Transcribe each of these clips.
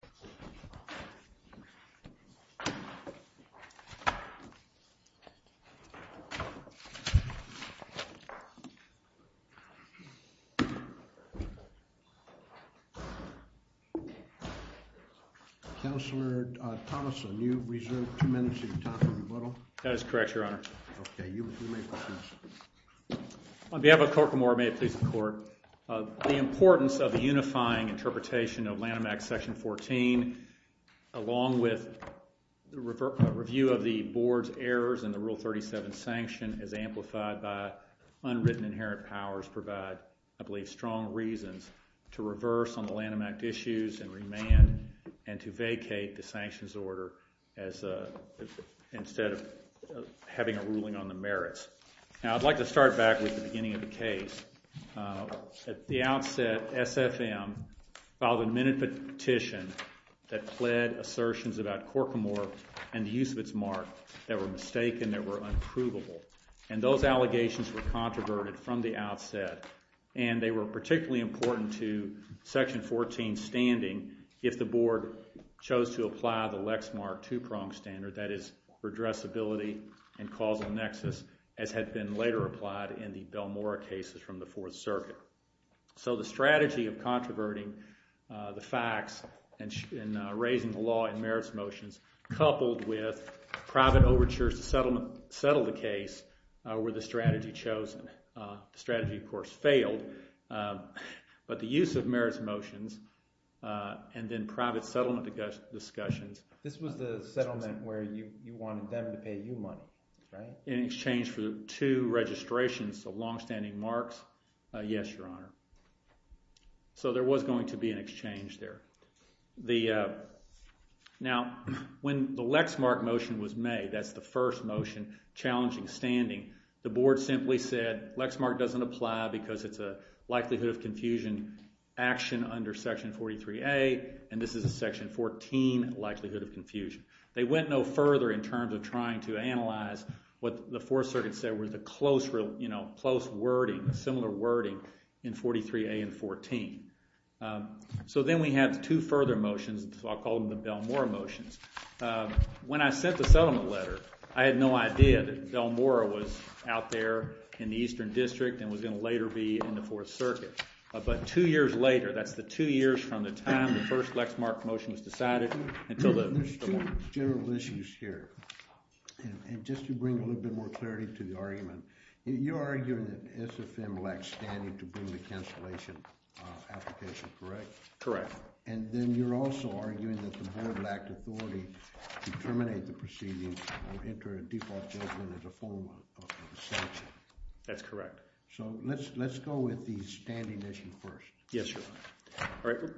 Controversy Over Part 1 of 8 On behalf of Corcomore, may it please the Court, the importance of the unifying interpretation of Lanham Act Section 14, along with a review of the Board's errors in the Rule 37 sanction as amplified by unwritten inherent powers, provide, I believe, strong reasons to reverse on the Lanham Act issues and remand and to vacate the sanctions order instead of having a ruling on the merits. Now, I'd like to start back with the beginning of the case. At the outset, SFM filed a minute petition that pled assertions about Corcomore and the use of its mark that were mistaken, that were unprovable. And those allegations were controverted from the outset. And they were particularly important to Section 14 standing if the Board chose to apply the causal nexus as had been later applied in the Belmora cases from the Fourth Circuit. So the strategy of controverting the facts and raising the law in merits motions coupled with private overtures to settle the case were the strategy chosen. The strategy, of course, failed. But the use of merits motions and then private settlement discussions. This was the settlement where you wanted them to pay you money, right? In exchange for two registrations of longstanding marks, yes, Your Honor. So there was going to be an exchange there. Now when the Lexmark motion was made, that's the first motion challenging standing, the Board simply said Lexmark doesn't apply because it's a likelihood of confusion action under Section 43A, and this is a Section 14 likelihood of confusion. They went no further in terms of trying to analyze what the Fourth Circuit said were the close, you know, close wording, similar wording in 43A and 14. So then we had two further motions, I'll call them the Belmora motions. When I sent the settlement letter, I had no idea that Belmora was out there in the Eastern District and was going to later be in the Fourth Circuit. But two years later, that's the two years from the time the first Lexmark motion was decided until the morning. There's two general issues here. And just to bring a little bit more clarity to the argument, you're arguing that SFM lacked standing to bring the cancellation application, correct? Correct. And then you're also arguing that the Board lacked authority to terminate the proceedings or enter a default judgment as a form of sanction. That's correct. So let's go with the standing issue first. Yes, Your Honor.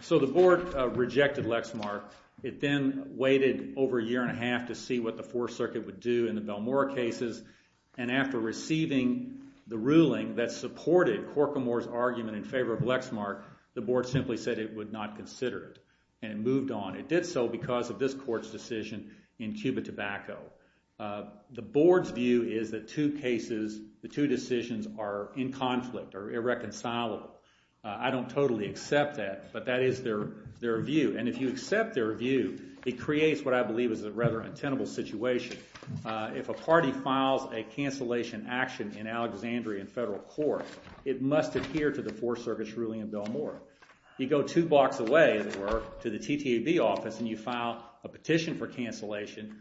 So the Board rejected Lexmark. It then waited over a year and a half to see what the Fourth Circuit would do in the Belmora cases. And after receiving the ruling that supported Corcomore's argument in favor of Lexmark, the Board simply said it would not consider it and it moved on. It did so because of this Court's decision in Cuba Tobacco. The Board's view is that two cases, the two decisions are in conflict or irreconcilable. I don't totally accept that, but that is their view. And if you accept their view, it creates what I believe is a rather untenable situation. If a party files a cancellation action in Alexandria in federal court, it must adhere to the Fourth Circuit's ruling in Belmora. You go two blocks away, as it were, to the TTAB office and you file a petition for cancellation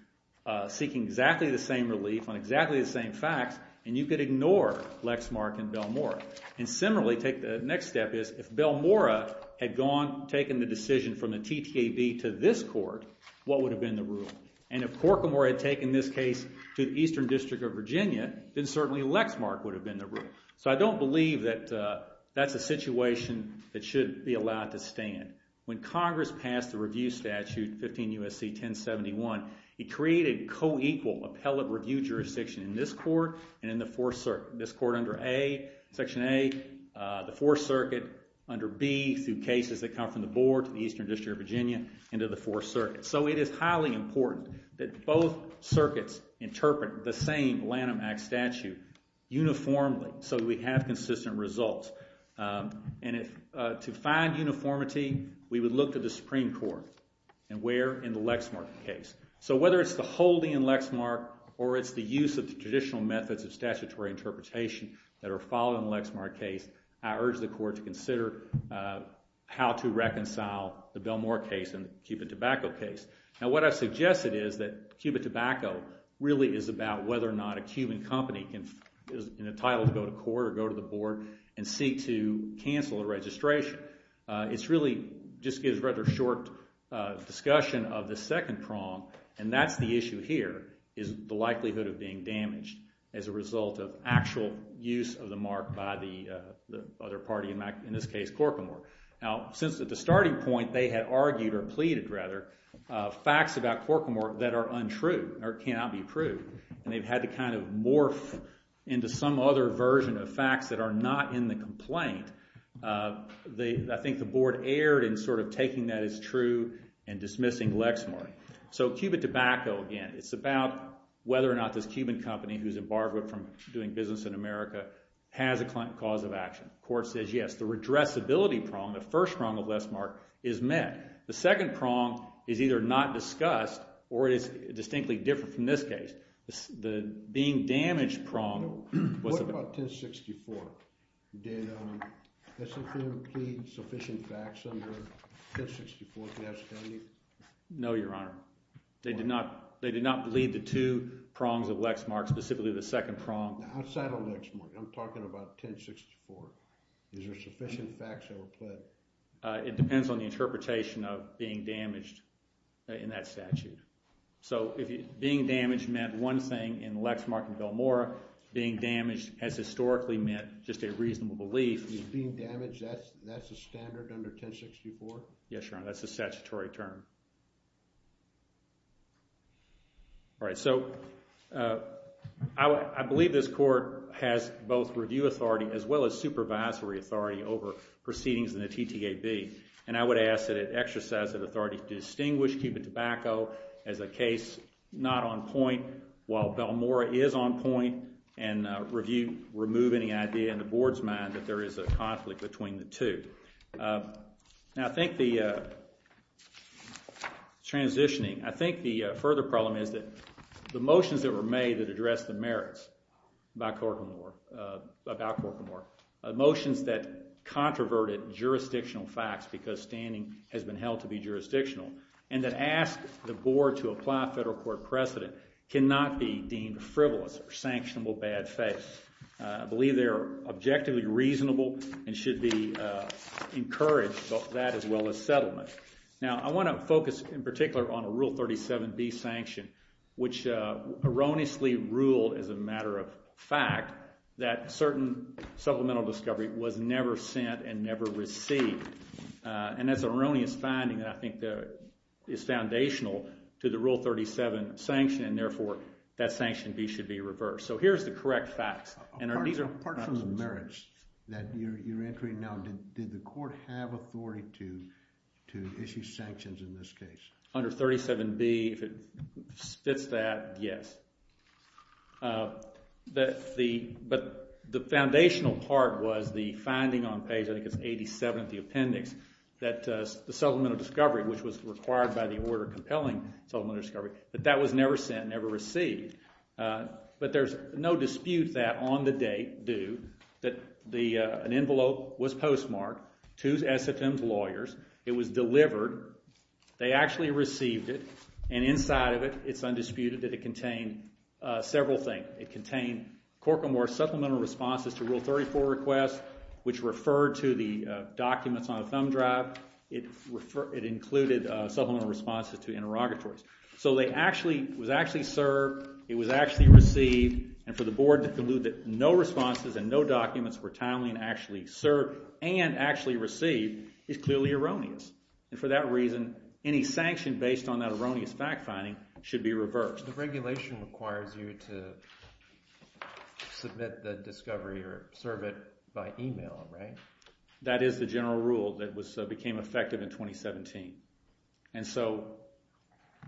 seeking exactly the same relief on exactly the same facts, and you could ignore Lexmark and Belmora. And similarly, take the next step is if Belmora had gone, taken the decision from the TTAB to this Court, what would have been the rule? And if Corcomore had taken this case to the Eastern District of Virginia, then certainly Lexmark would have been the rule. So I don't believe that that's a situation that should be allowed to stand. When Congress passed the review statute, 15 U.S.C. 1071, it created co-equal appellate review jurisdiction in this Court and in the Fourth Circuit. This Court under Section A, the Fourth Circuit under B through cases that come from the Board to the Eastern District of Virginia into the Fourth Circuit. So it is highly important that both circuits interpret the same Lanham Act statute uniformly so that we have consistent results. And to find uniformity, we would look to the Supreme Court and where in the Lexmark case. So whether it's the holding in Lexmark or it's the use of the traditional methods of statutory interpretation that are followed in the Lexmark case, I urge the Court to consider how to reconcile the Belmora case and the Cupid Tobacco case. Now what I suggested is that Cupid Tobacco really is about whether or not a Cuban company is entitled to go to court or go to the Board and seek to cancel a registration. It's really just gives a rather short discussion of the second prong and that's the issue here is the likelihood of being damaged as a result of actual use of the mark by the other party, in this case Corcomore. Now since at the starting point they had argued or pleaded rather facts about Corcomore that are untrue or cannot be proved and they've had to kind of morph into some other version of facts that are not in the complaint, I think the Board erred in sort of taking that as true and dismissing Lexmark. So Cupid Tobacco again, it's about whether or not this Cuban company who's embarked from doing business in America has a cause of action. The Court says yes, the redressability prong, the first prong of Lexmark is met. The second prong is either not discussed or it is distinctly different from this case. The being damaged prong was about... What about 1064? Did S&P complete sufficient facts under 1064 to have standing? No, Your Honor. They did not lead the two prongs of Lexmark, specifically the second prong. Outside of Lexmark, I'm talking about 1064. Is there sufficient facts that were pledged? It depends on the interpretation of being damaged in that statute. So being damaged meant one thing in Lexmark and Billmore. Being damaged has historically meant just a reasonable belief. Being damaged, that's a standard under 1064? Yes, Your Honor. That's a statutory term. All right. So I believe this Court has both review authority as well as supervisory authority over proceedings in the TTAB, and I would ask that it exercise that authority to distinguish Cupid Tobacco as a case not on point while Billmore is on point and remove any idea in the Board's mind that there is a conflict between the two. Now, I think the transitioning, I think the further problem is that the motions that were because standing has been held to be jurisdictional, and that ask the Board to apply a federal court precedent cannot be deemed frivolous or sanctionable bad faith. I believe they are objectively reasonable and should be encouraged, both that as well as settlement. Now, I want to focus in particular on Rule 37B sanction, which erroneously ruled as a supplemental discovery was never sent and never received, and that's an erroneous finding that I think is foundational to the Rule 37 sanction, and therefore, that sanction B should be reversed. So here's the correct facts. Apart from the merits that you're entering now, did the Court have authority to issue sanctions in this case? Under 37B, if it fits that, yes. But the foundational part was the finding on page, I think it's 87 of the appendix, that the supplemental discovery, which was required by the order compelling supplemental discovery, that that was never sent, never received. But there's no dispute that on the date due, that an envelope was postmarked to SFM's lawyers. It was delivered. They actually received it, and inside of it, it's undisputed that it contained several things. It contained Corcomore's supplemental responses to Rule 34 requests, which referred to the documents on a thumb drive. It included supplemental responses to interrogatories. So it was actually served, it was actually received, and for the Board to conclude that no responses and no documents were timely and actually served and actually received is clearly erroneous. And for that reason, any sanction based on that erroneous fact-finding should be reversed. The regulation requires you to submit the discovery or serve it by email, right? That is the general rule that became effective in 2017. And so,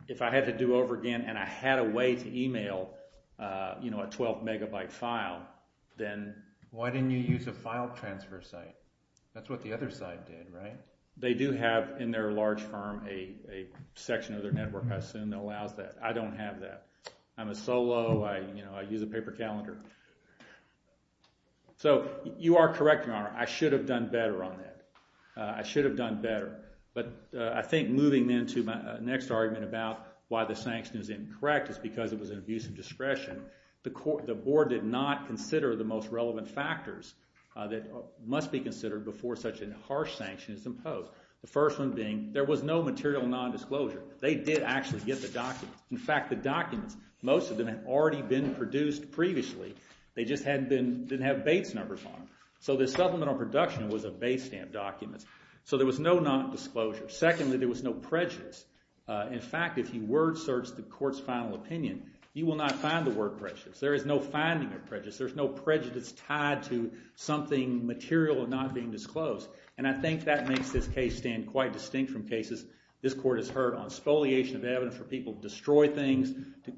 if I had to do over again, and I had a way to email, you know, a 12 megabyte file, then... Why didn't you use a file transfer site? That's what the other side did, right? They do have, in their large firm, a section of their network, I assume, that allows that. I don't have that. I'm a solo, you know, I use a paper calendar. So, you are correct, Your Honor, I should have done better on that. I should have done better. But I think moving into my next argument about why the sanction is incorrect is because it was an abuse of discretion. The Board did not consider the most relevant factors that must be considered before such a harsh sanction. The first one being, there was no material non-disclosure. They did actually get the documents. In fact, the documents, most of them had already been produced previously. They just didn't have Bates numbers on them. So, the supplemental production was a Bates stamp document. So, there was no non-disclosure. Secondly, there was no prejudice. In fact, if you word search the court's final opinion, you will not find the word prejudice. There is no finding of prejudice. There's no prejudice tied to something material not being disclosed. And I think that makes this case stand quite distinct from cases. This Court has heard on spoliation of evidence where people destroy things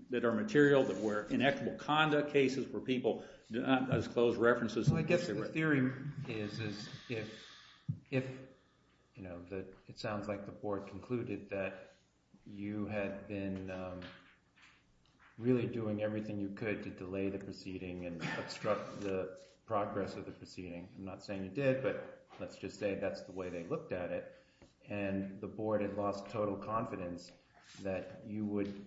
that are material, that were inequitable conduct cases, where people do not disclose references. Well, I guess the theory is if, you know, it sounds like the Board concluded that you had been really doing everything you could to delay the proceeding and obstruct the progress of the proceeding. I'm not saying you did, but let's just say that's the way they looked at it. And the Board had lost total confidence that you would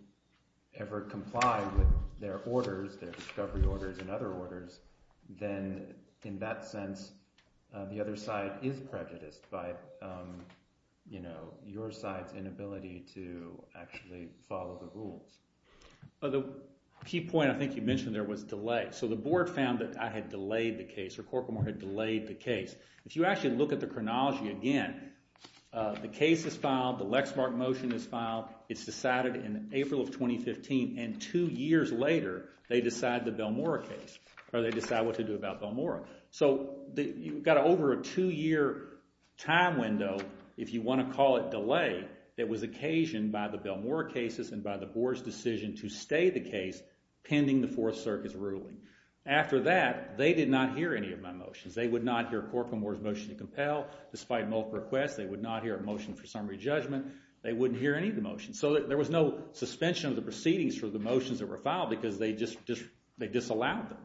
ever comply with their orders, their discovery orders and other orders. Then, in that sense, the other side is prejudiced by, you know, your side's inability to actually follow the rules. The key point I think you mentioned there was delay. So the Board found that I had delayed the case, or Corcoran had delayed the case. If you actually look at the chronology again, the case is filed, the Lexmark motion is filed, it's decided in April of 2015, and two years later they decide the Belmora case, or they decide what to do about Belmora. So you've got over a two-year time window, if you want to call it delay, that was occasioned by the Belmora cases and by the Board's decision to stay the case pending the Fourth Circuit's ruling. After that, they did not hear any of my motions. They would not hear Corcoran Moore's motion to compel. Despite multiple requests, they would not hear a motion for summary judgment. They wouldn't hear any of the motions. So there was no suspension of the proceedings for the motions that were filed because they disallowed them.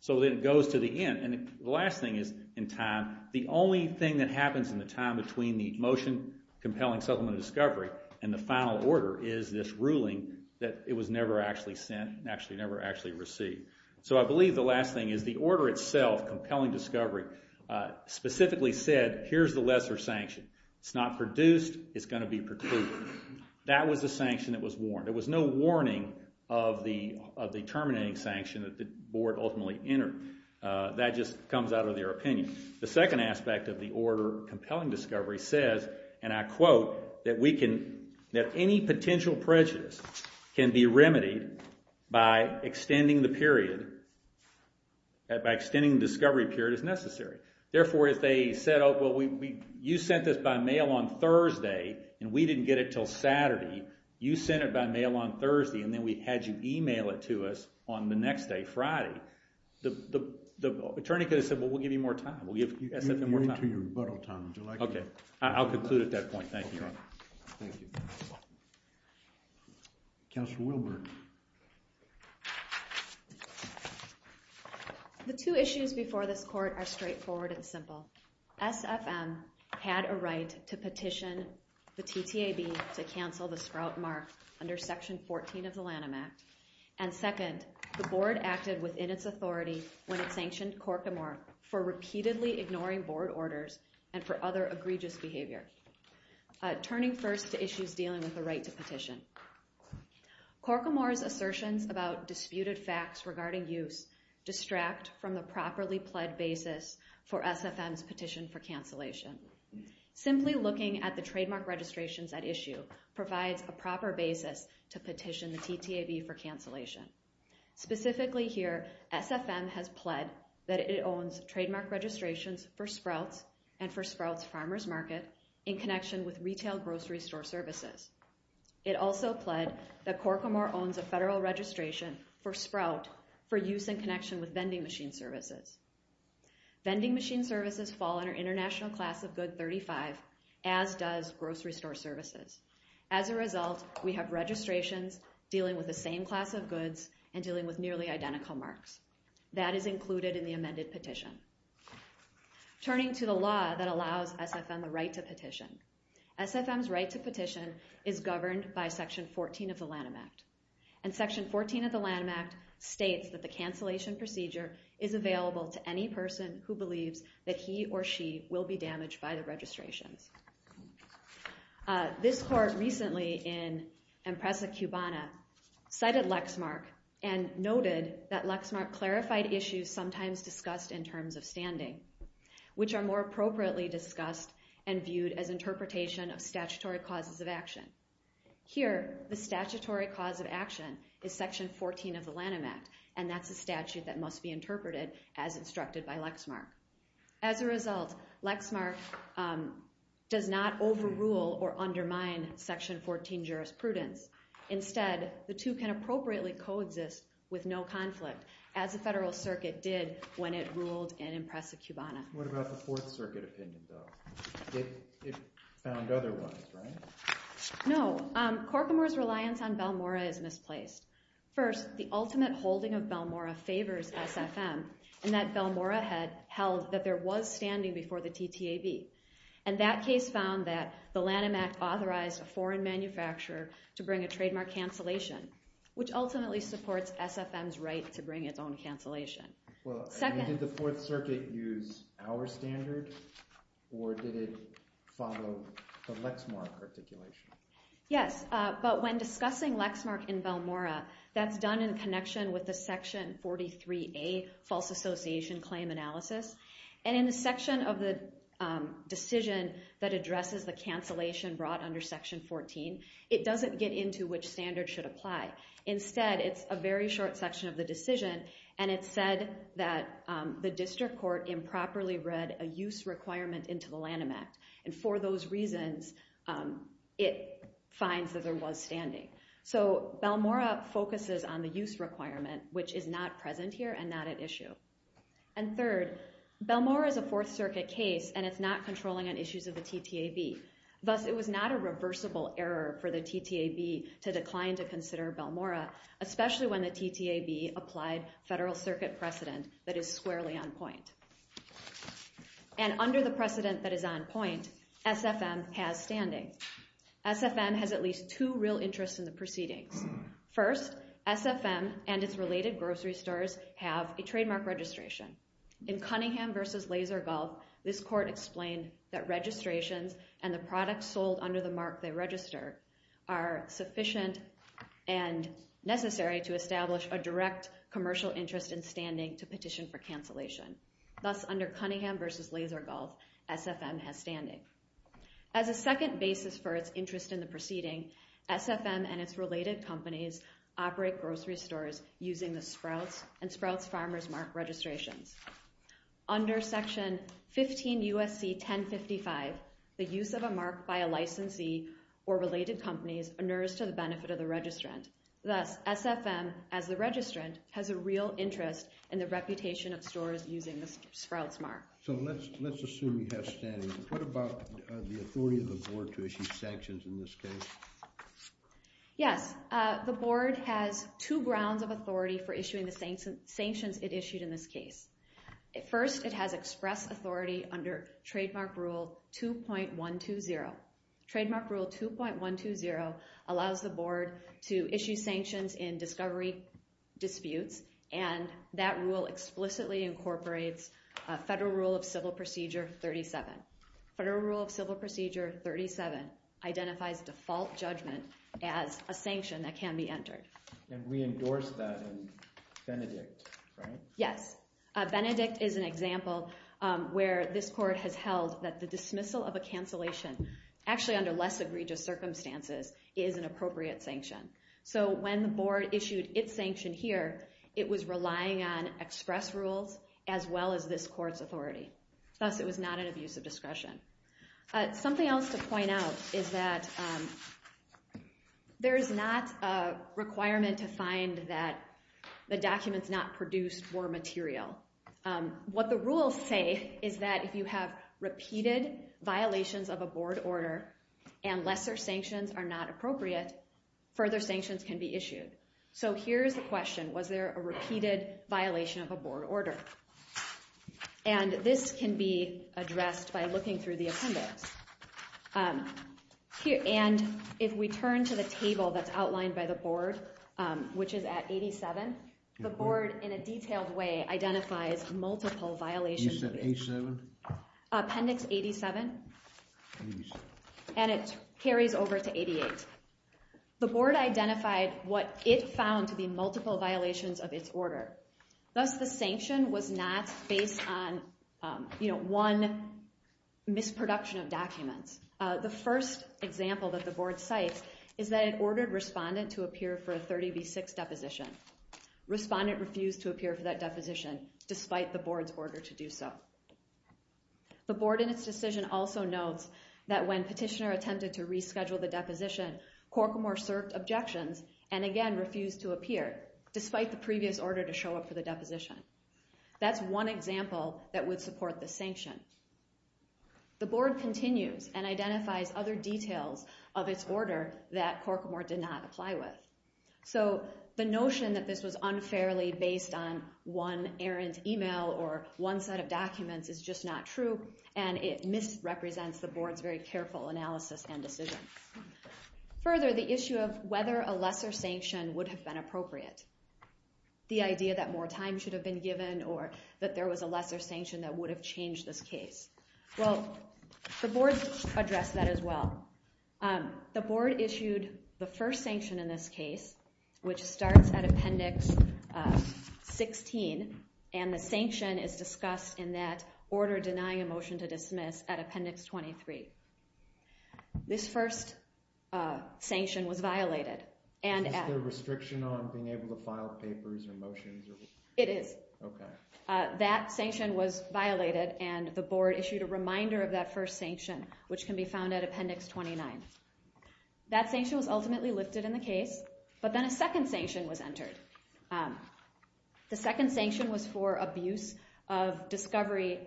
So then it goes to the end. And the last thing is, in time, the only thing that happens in the time between the motion compelling supplement of discovery and the final order is this ruling that it was never actually sent, never actually received. So I believe the last thing is the order itself, compelling discovery, specifically said, here's the lesser sanction. It's not produced, it's going to be precluded. That was the sanction that was warned. There was no warning of the terminating sanction that the Board ultimately entered. That just comes out of their opinion. The second aspect of the order, compelling discovery, says, and I quote, that any potential prejudice can be remedied by extending the period, by extending the discovery period as necessary. Therefore, if they said, oh, well, you sent this by mail on Thursday and we didn't get it until Saturday. You sent it by mail on Thursday and then we had you email it to us on the next day, Friday. The attorney could have said, well, we'll give you more time. We'll give you more time. OK. I'll conclude at that point. Thank you. Thank you. Counselor Wilberg. The two issues before this court are straightforward and simple. SFM had a right to petition the TTAB to cancel the Sprout Mark under Section 14 of the Lanham Act. And second, the Board acted within its authority when it sanctioned Corcomore for repeatedly ignoring Board orders and for other egregious behavior. Turning first to issues dealing with the right to petition. Corcomore's assertions about disputed facts regarding use distract from the properly pled basis for SFM's petition for cancellation. Simply looking at the trademark registrations at issue provides a proper basis to petition the TTAB for cancellation. Specifically here, SFM has pled that it owns trademark registrations for Sprout's and for Sprout's Farmer's Market in connection with retail grocery store services. It also pled that Corcomore owns a federal registration for Sprout for use in connection with vending machine services. Vending machine services fall under International Class of Good 35 as does grocery store services. And dealing with nearly identical marks. That is included in the amended petition. Turning to the law that allows SFM the right to petition. SFM's right to petition is governed by Section 14 of the Lanham Act. And Section 14 of the Lanham Act states that the cancellation procedure is available to any person who believes that he or she will be damaged by the registrations. This court recently in Empresa Cubana cited Lexmark and noted that Lexmark clarified issues sometimes discussed in terms of standing, which are more appropriately discussed and viewed as interpretation of statutory causes of action. Here, the statutory cause of action is Section 14 of the Lanham Act and that's a statute that must be interpreted as instructed by Lexmark. As a result, Lexmark does not overrule or undermine Section 14 jurisprudence. Instead, the two can appropriately coexist with no conflict as the Federal Circuit did when it ruled in Empresa Cubana. What about the Fourth Circuit opinion though? It found otherwise, right? No, Corcomore's reliance on Belmora is misplaced. First, the ultimate holding of Belmora favors SFM and that Belmora held that there was standing before the TTAB. And that case found that the Lanham Act authorized a foreign manufacturer to bring a trademark cancellation, which ultimately supports SFM's right to bring its own cancellation. Did the Fourth Circuit use our standard or did it follow the Lexmark articulation? Yes, but when discussing Lexmark in Belmora, that's done in connection with the Section 43A false association claim analysis. And in the section of the decision that addresses the cancellation brought under Section 14, it doesn't get into which standard should apply. Instead, it's a very short section of the decision and it said that the district court improperly read a use requirement into the Lanham Act. And for those reasons, it finds that there was standing. So Belmora focuses on the use requirement, which is not present here and not at issue. And third, Belmora is a Fourth Circuit case and it's not controlling on issues of the TTAB. Thus, it was not a reversible error for the TTAB to decline to consider Belmora, especially when the TTAB applied Federal Circuit precedent that is squarely on point. And under the precedent that is on point, SFM has standing. SFM has at least two real interests in the proceedings. First, SFM and its related grocery stores have a trademark registration. In Cunningham v. Laser Gulf, this court explained that registrations and the products sold under the mark they registered are sufficient and necessary to establish a direct commercial interest in standing to petition for cancellation. Thus, under Cunningham v. Laser Gulf, SFM has standing. As a second basis for its interest in the proceeding, SFM and its related companies operate grocery stores using the Sprouts and Sprouts Farmers Mark registrations. Under Section 15 U.S.C. 1055, the use of a mark by a licensee or related companies inures to the benefit of the registrant. Thus, SFM, as the registrant, has a real interest in the reputation of stores using the Sprouts Mark. So let's assume you have standing. What about the authority of the board to issue sanctions in this case? Yes, the board has two grounds of authority for issuing the sanctions it issued in this case. First, it has express authority under Trademark Rule 2.120. Trademark Rule 2.120 allows the board to issue sanctions in discovery disputes, and that rule explicitly incorporates Federal Rule of Civil Procedure 37. Federal Rule of Civil Procedure 37 identifies default judgment as a sanction that can be entered. And we endorse that in Benedict, right? Yes. Benedict is an example where this court has held that the dismissal of a cancellation, actually under less egregious circumstances, is an appropriate sanction. So when the board issued its sanction here, it was relying on express rules, as well as this court's authority. Thus, it was not an abuse of discretion. Something else to point out is that there is not a requirement to find that the documents not produced were material. What the rules say is that if you have repeated violations of a board order and lesser sanctions are not appropriate, further sanctions can be issued. So here's the question. Was there a repeated violation of a board order? And this can be addressed by looking through the appendix. And if we turn to the table that's outlined by the board, which is at 87, the board, in a detailed way, identifies multiple violations. You said 87? Appendix 87. And it carries over to 88. The board identified what it found to be multiple violations of its order. Thus, the sanction was not based on one misproduction of documents. The first example that the board cites is that it ordered respondent to appear for a 30 v. 6 deposition. Respondent refused to appear for that deposition, despite the board's order to do so. The board, in its decision, also notes that when petitioner attempted to reschedule the deposition, Corcomore cert objections and again refused to appear, despite the previous order to show up for the deposition. That's one example that would support the sanction. The board continues and identifies other details of its order that Corcomore did not apply with. So the notion that this was unfairly based on one errant email or one set of documents is just not true. And it misrepresents the board's very careful analysis and decision. Further, the issue of whether a lesser sanction would have been appropriate. The idea that more time should have been given or that there was a lesser sanction that would have changed this case. Well, the board addressed that as well. The board issued the first sanction in this case, which starts at Appendix 16. And the sanction is discussed in that order denying a motion to dismiss at Appendix 23. This first sanction was violated. Is there a restriction on being able to file papers or motions? It is. OK. That sanction was violated. And the board issued a reminder of that first sanction, which can be found at Appendix 29. That sanction was ultimately lifted in the case. But then a second sanction was entered. The second sanction was for abuse of discovery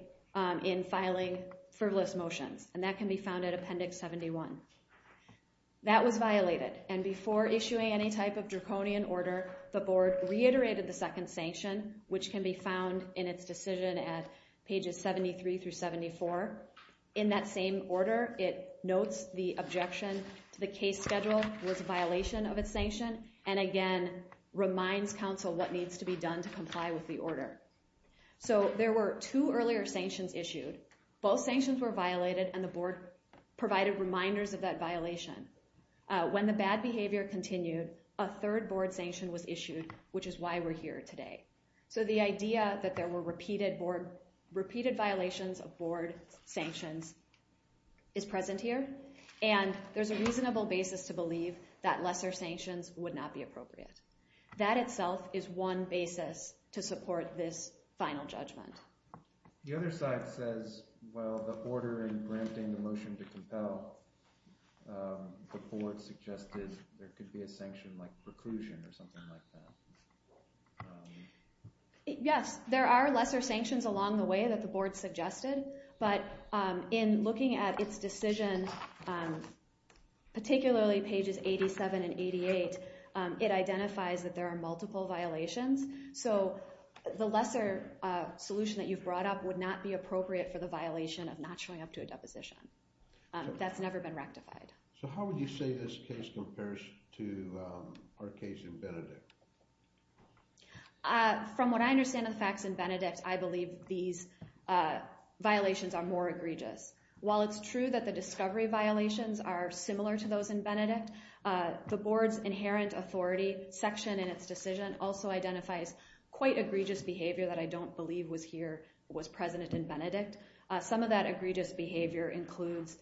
in filing frivolous motions. And that can be found at Appendix 71. That was violated. And before issuing any type of draconian order, the board reiterated the second sanction, which can be found in its decision at pages 73 through 74. In that same order, it notes the objection to the case schedule was a violation of its sanction. And again, reminds counsel what needs to be done to comply with the order. So there were two earlier sanctions issued. Both sanctions were violated. And the board provided reminders of that violation. When the bad behavior continued, a third board sanction was issued, which is why we're here today. So the idea that there were repeated violations of board sanctions is present here. And there's a reasonable basis to believe that lesser sanctions would not be appropriate. That itself is one basis to support this final judgment. The other side says, well, the order in granting the motion to compel, the board suggested there could be a sanction like preclusion or something like that. Yes. There are lesser sanctions along the way that the board suggested. But in looking at its decision, particularly pages 87 and 88, it identifies that there are multiple violations. So the lesser solution that you've brought up would not be appropriate for the violation of not showing up to a deposition. That's never been rectified. So how would you say this case compares to our case in Benedict? From what I understand of the facts in Benedict, I believe these violations are more egregious. While it's true that the discovery violations are similar to those in Benedict, the board's inherent authority section in its decision also identifies quite egregious behavior that I don't believe was present in Benedict. Some of that egregious behavior includes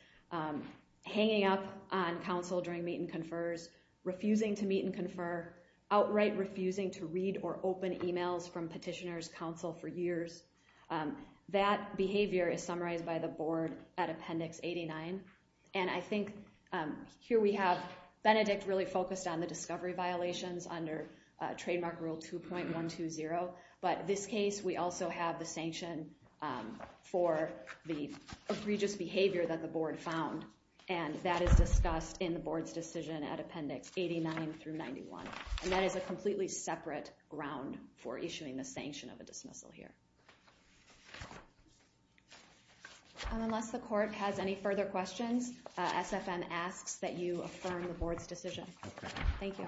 hanging up on counsel during meet and confers, refusing to meet and confer, outright refusing to read or open emails from petitioners, counsel for years. That behavior is summarized by the board at Appendix 89. And I think here we have Benedict really focused on the discovery violations under Trademark Rule 2.120. But this case, we also have the sanction for the egregious behavior that the board found. And that is discussed in the board's decision at Appendix 89 through 91. And that is a completely separate ground for issuing the sanction of a dismissal here. Unless the court has any further questions, SFM asks that you affirm the board's decision. Thank you.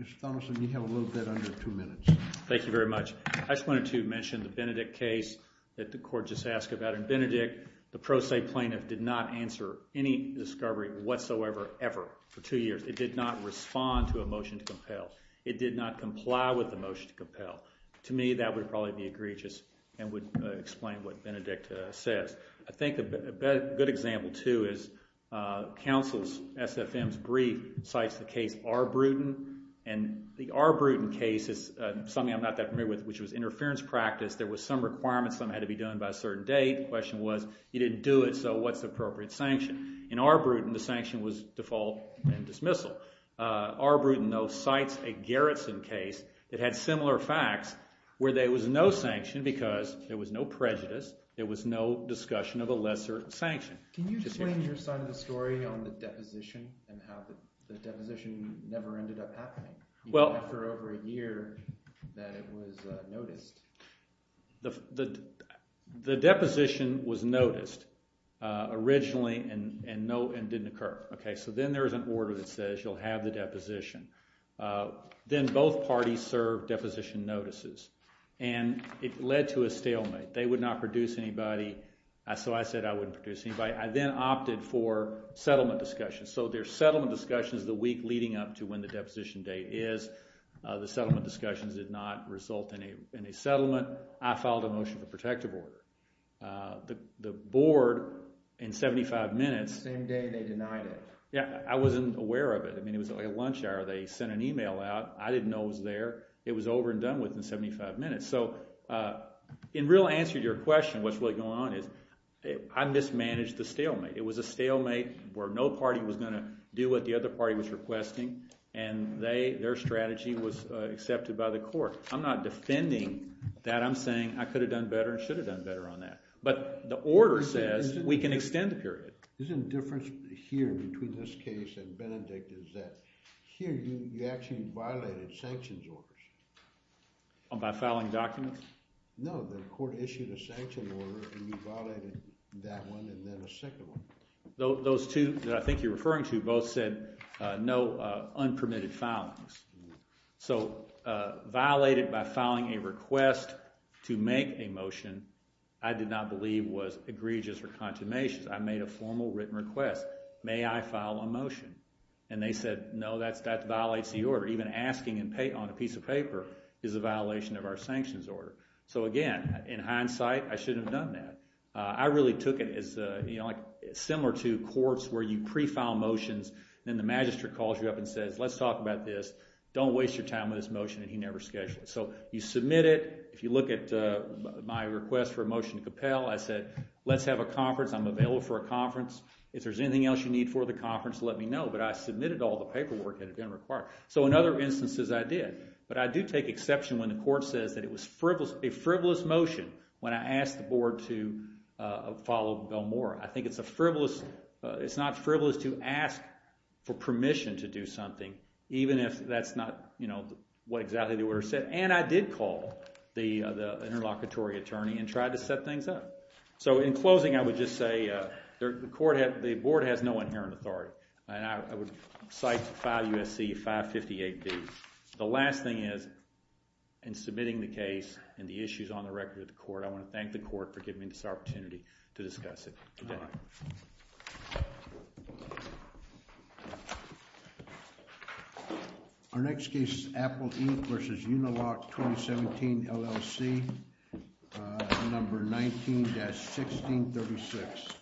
Mr. Thomason, you have a little bit under two minutes. Thank you very much. I just wanted to mention the Benedict case that the court just asked about. And Benedict, the pro se plaintiff, did not answer any discovery whatsoever, ever, for two years. It did not respond to a motion to compel. It did not comply with the motion to compel. To me, that would probably be egregious and would explain what Benedict says. I think a good example, too, is counsel's SFM's brief cites the case Arbrutin. And the Arbrutin case is something I'm not that familiar with, which was interference practice. There was some requirements. Something had to be done by a certain date. The question was, you didn't do it, so what's the appropriate sanction? In Arbrutin, the sanction was default and dismissal. Arbrutin, though, cites a Gerritsen case that had similar facts, where there was no sanction because there was no prejudice. There was no discussion of a lesser sanction. Can you explain your side of the story on the deposition and how the deposition never ended up happening? After over a year that it was noticed. The deposition was noticed originally and didn't occur. So then there's an order that says you'll have the deposition. Then both parties served deposition notices and it led to a stalemate. They would not produce anybody, so I said I wouldn't produce anybody. I then opted for settlement discussions. So there's settlement discussions the week leading up to when the deposition date is. The settlement discussions did not result in a settlement. I filed a motion for protective order. The board, in 75 minutes... Same day they denied it. Yeah, I wasn't aware of it. It was at lunch hour. They sent an email out. I didn't know it was there. It was over and done with in 75 minutes. So in real answer to your question, what's really going on is I mismanaged the stalemate. It was a stalemate where no party was going to do what the other party was requesting and their strategy was accepted by the court. I'm not defending that. I'm saying I could have done better and should have done better on that. But the order says we can extend the period. The difference here between this case and Benedict is that here you actually violated sanctions orders. By filing documents? No, the court issued a sanction order and you violated that one and then a second one. Those two that I think you're referring to both said no unpermitted filings. So violated by filing a request to make a motion I did not believe was egregious or consummation. I made a formal written request. May I file a motion? And they said no, that violates the order. Even asking on a piece of paper is a violation of our sanctions order. So again, in hindsight, I should have done that. I really took it as similar to courts where you pre-file motions and then the magistrate calls you up and says let's talk about this. Don't waste your time with this motion and he never schedules it. So you submit it. If you look at my request for a motion to compel I said let's have a conference. I'm available for a conference. If there's anything else you need for the conference let me know. But I submitted all the paperwork that had been required. So in other instances I did. But I do take exception when the court says that it was a frivolous motion when I asked the board to follow Bill Moore. I think it's a frivolous it's not frivolous to ask for permission to do something even if that's not what exactly the order said. And I did call the interlocutory attorney and tried to set things up. So in closing I would just say the board has no inherent authority. And I would cite file USC 558B. The last thing is in submitting the case and the issues on the record to the court I want to thank the court for giving me this opportunity to discuss it. Thank you. Our next case is Appleton v. Unilock 2017, LLC number 19-1636.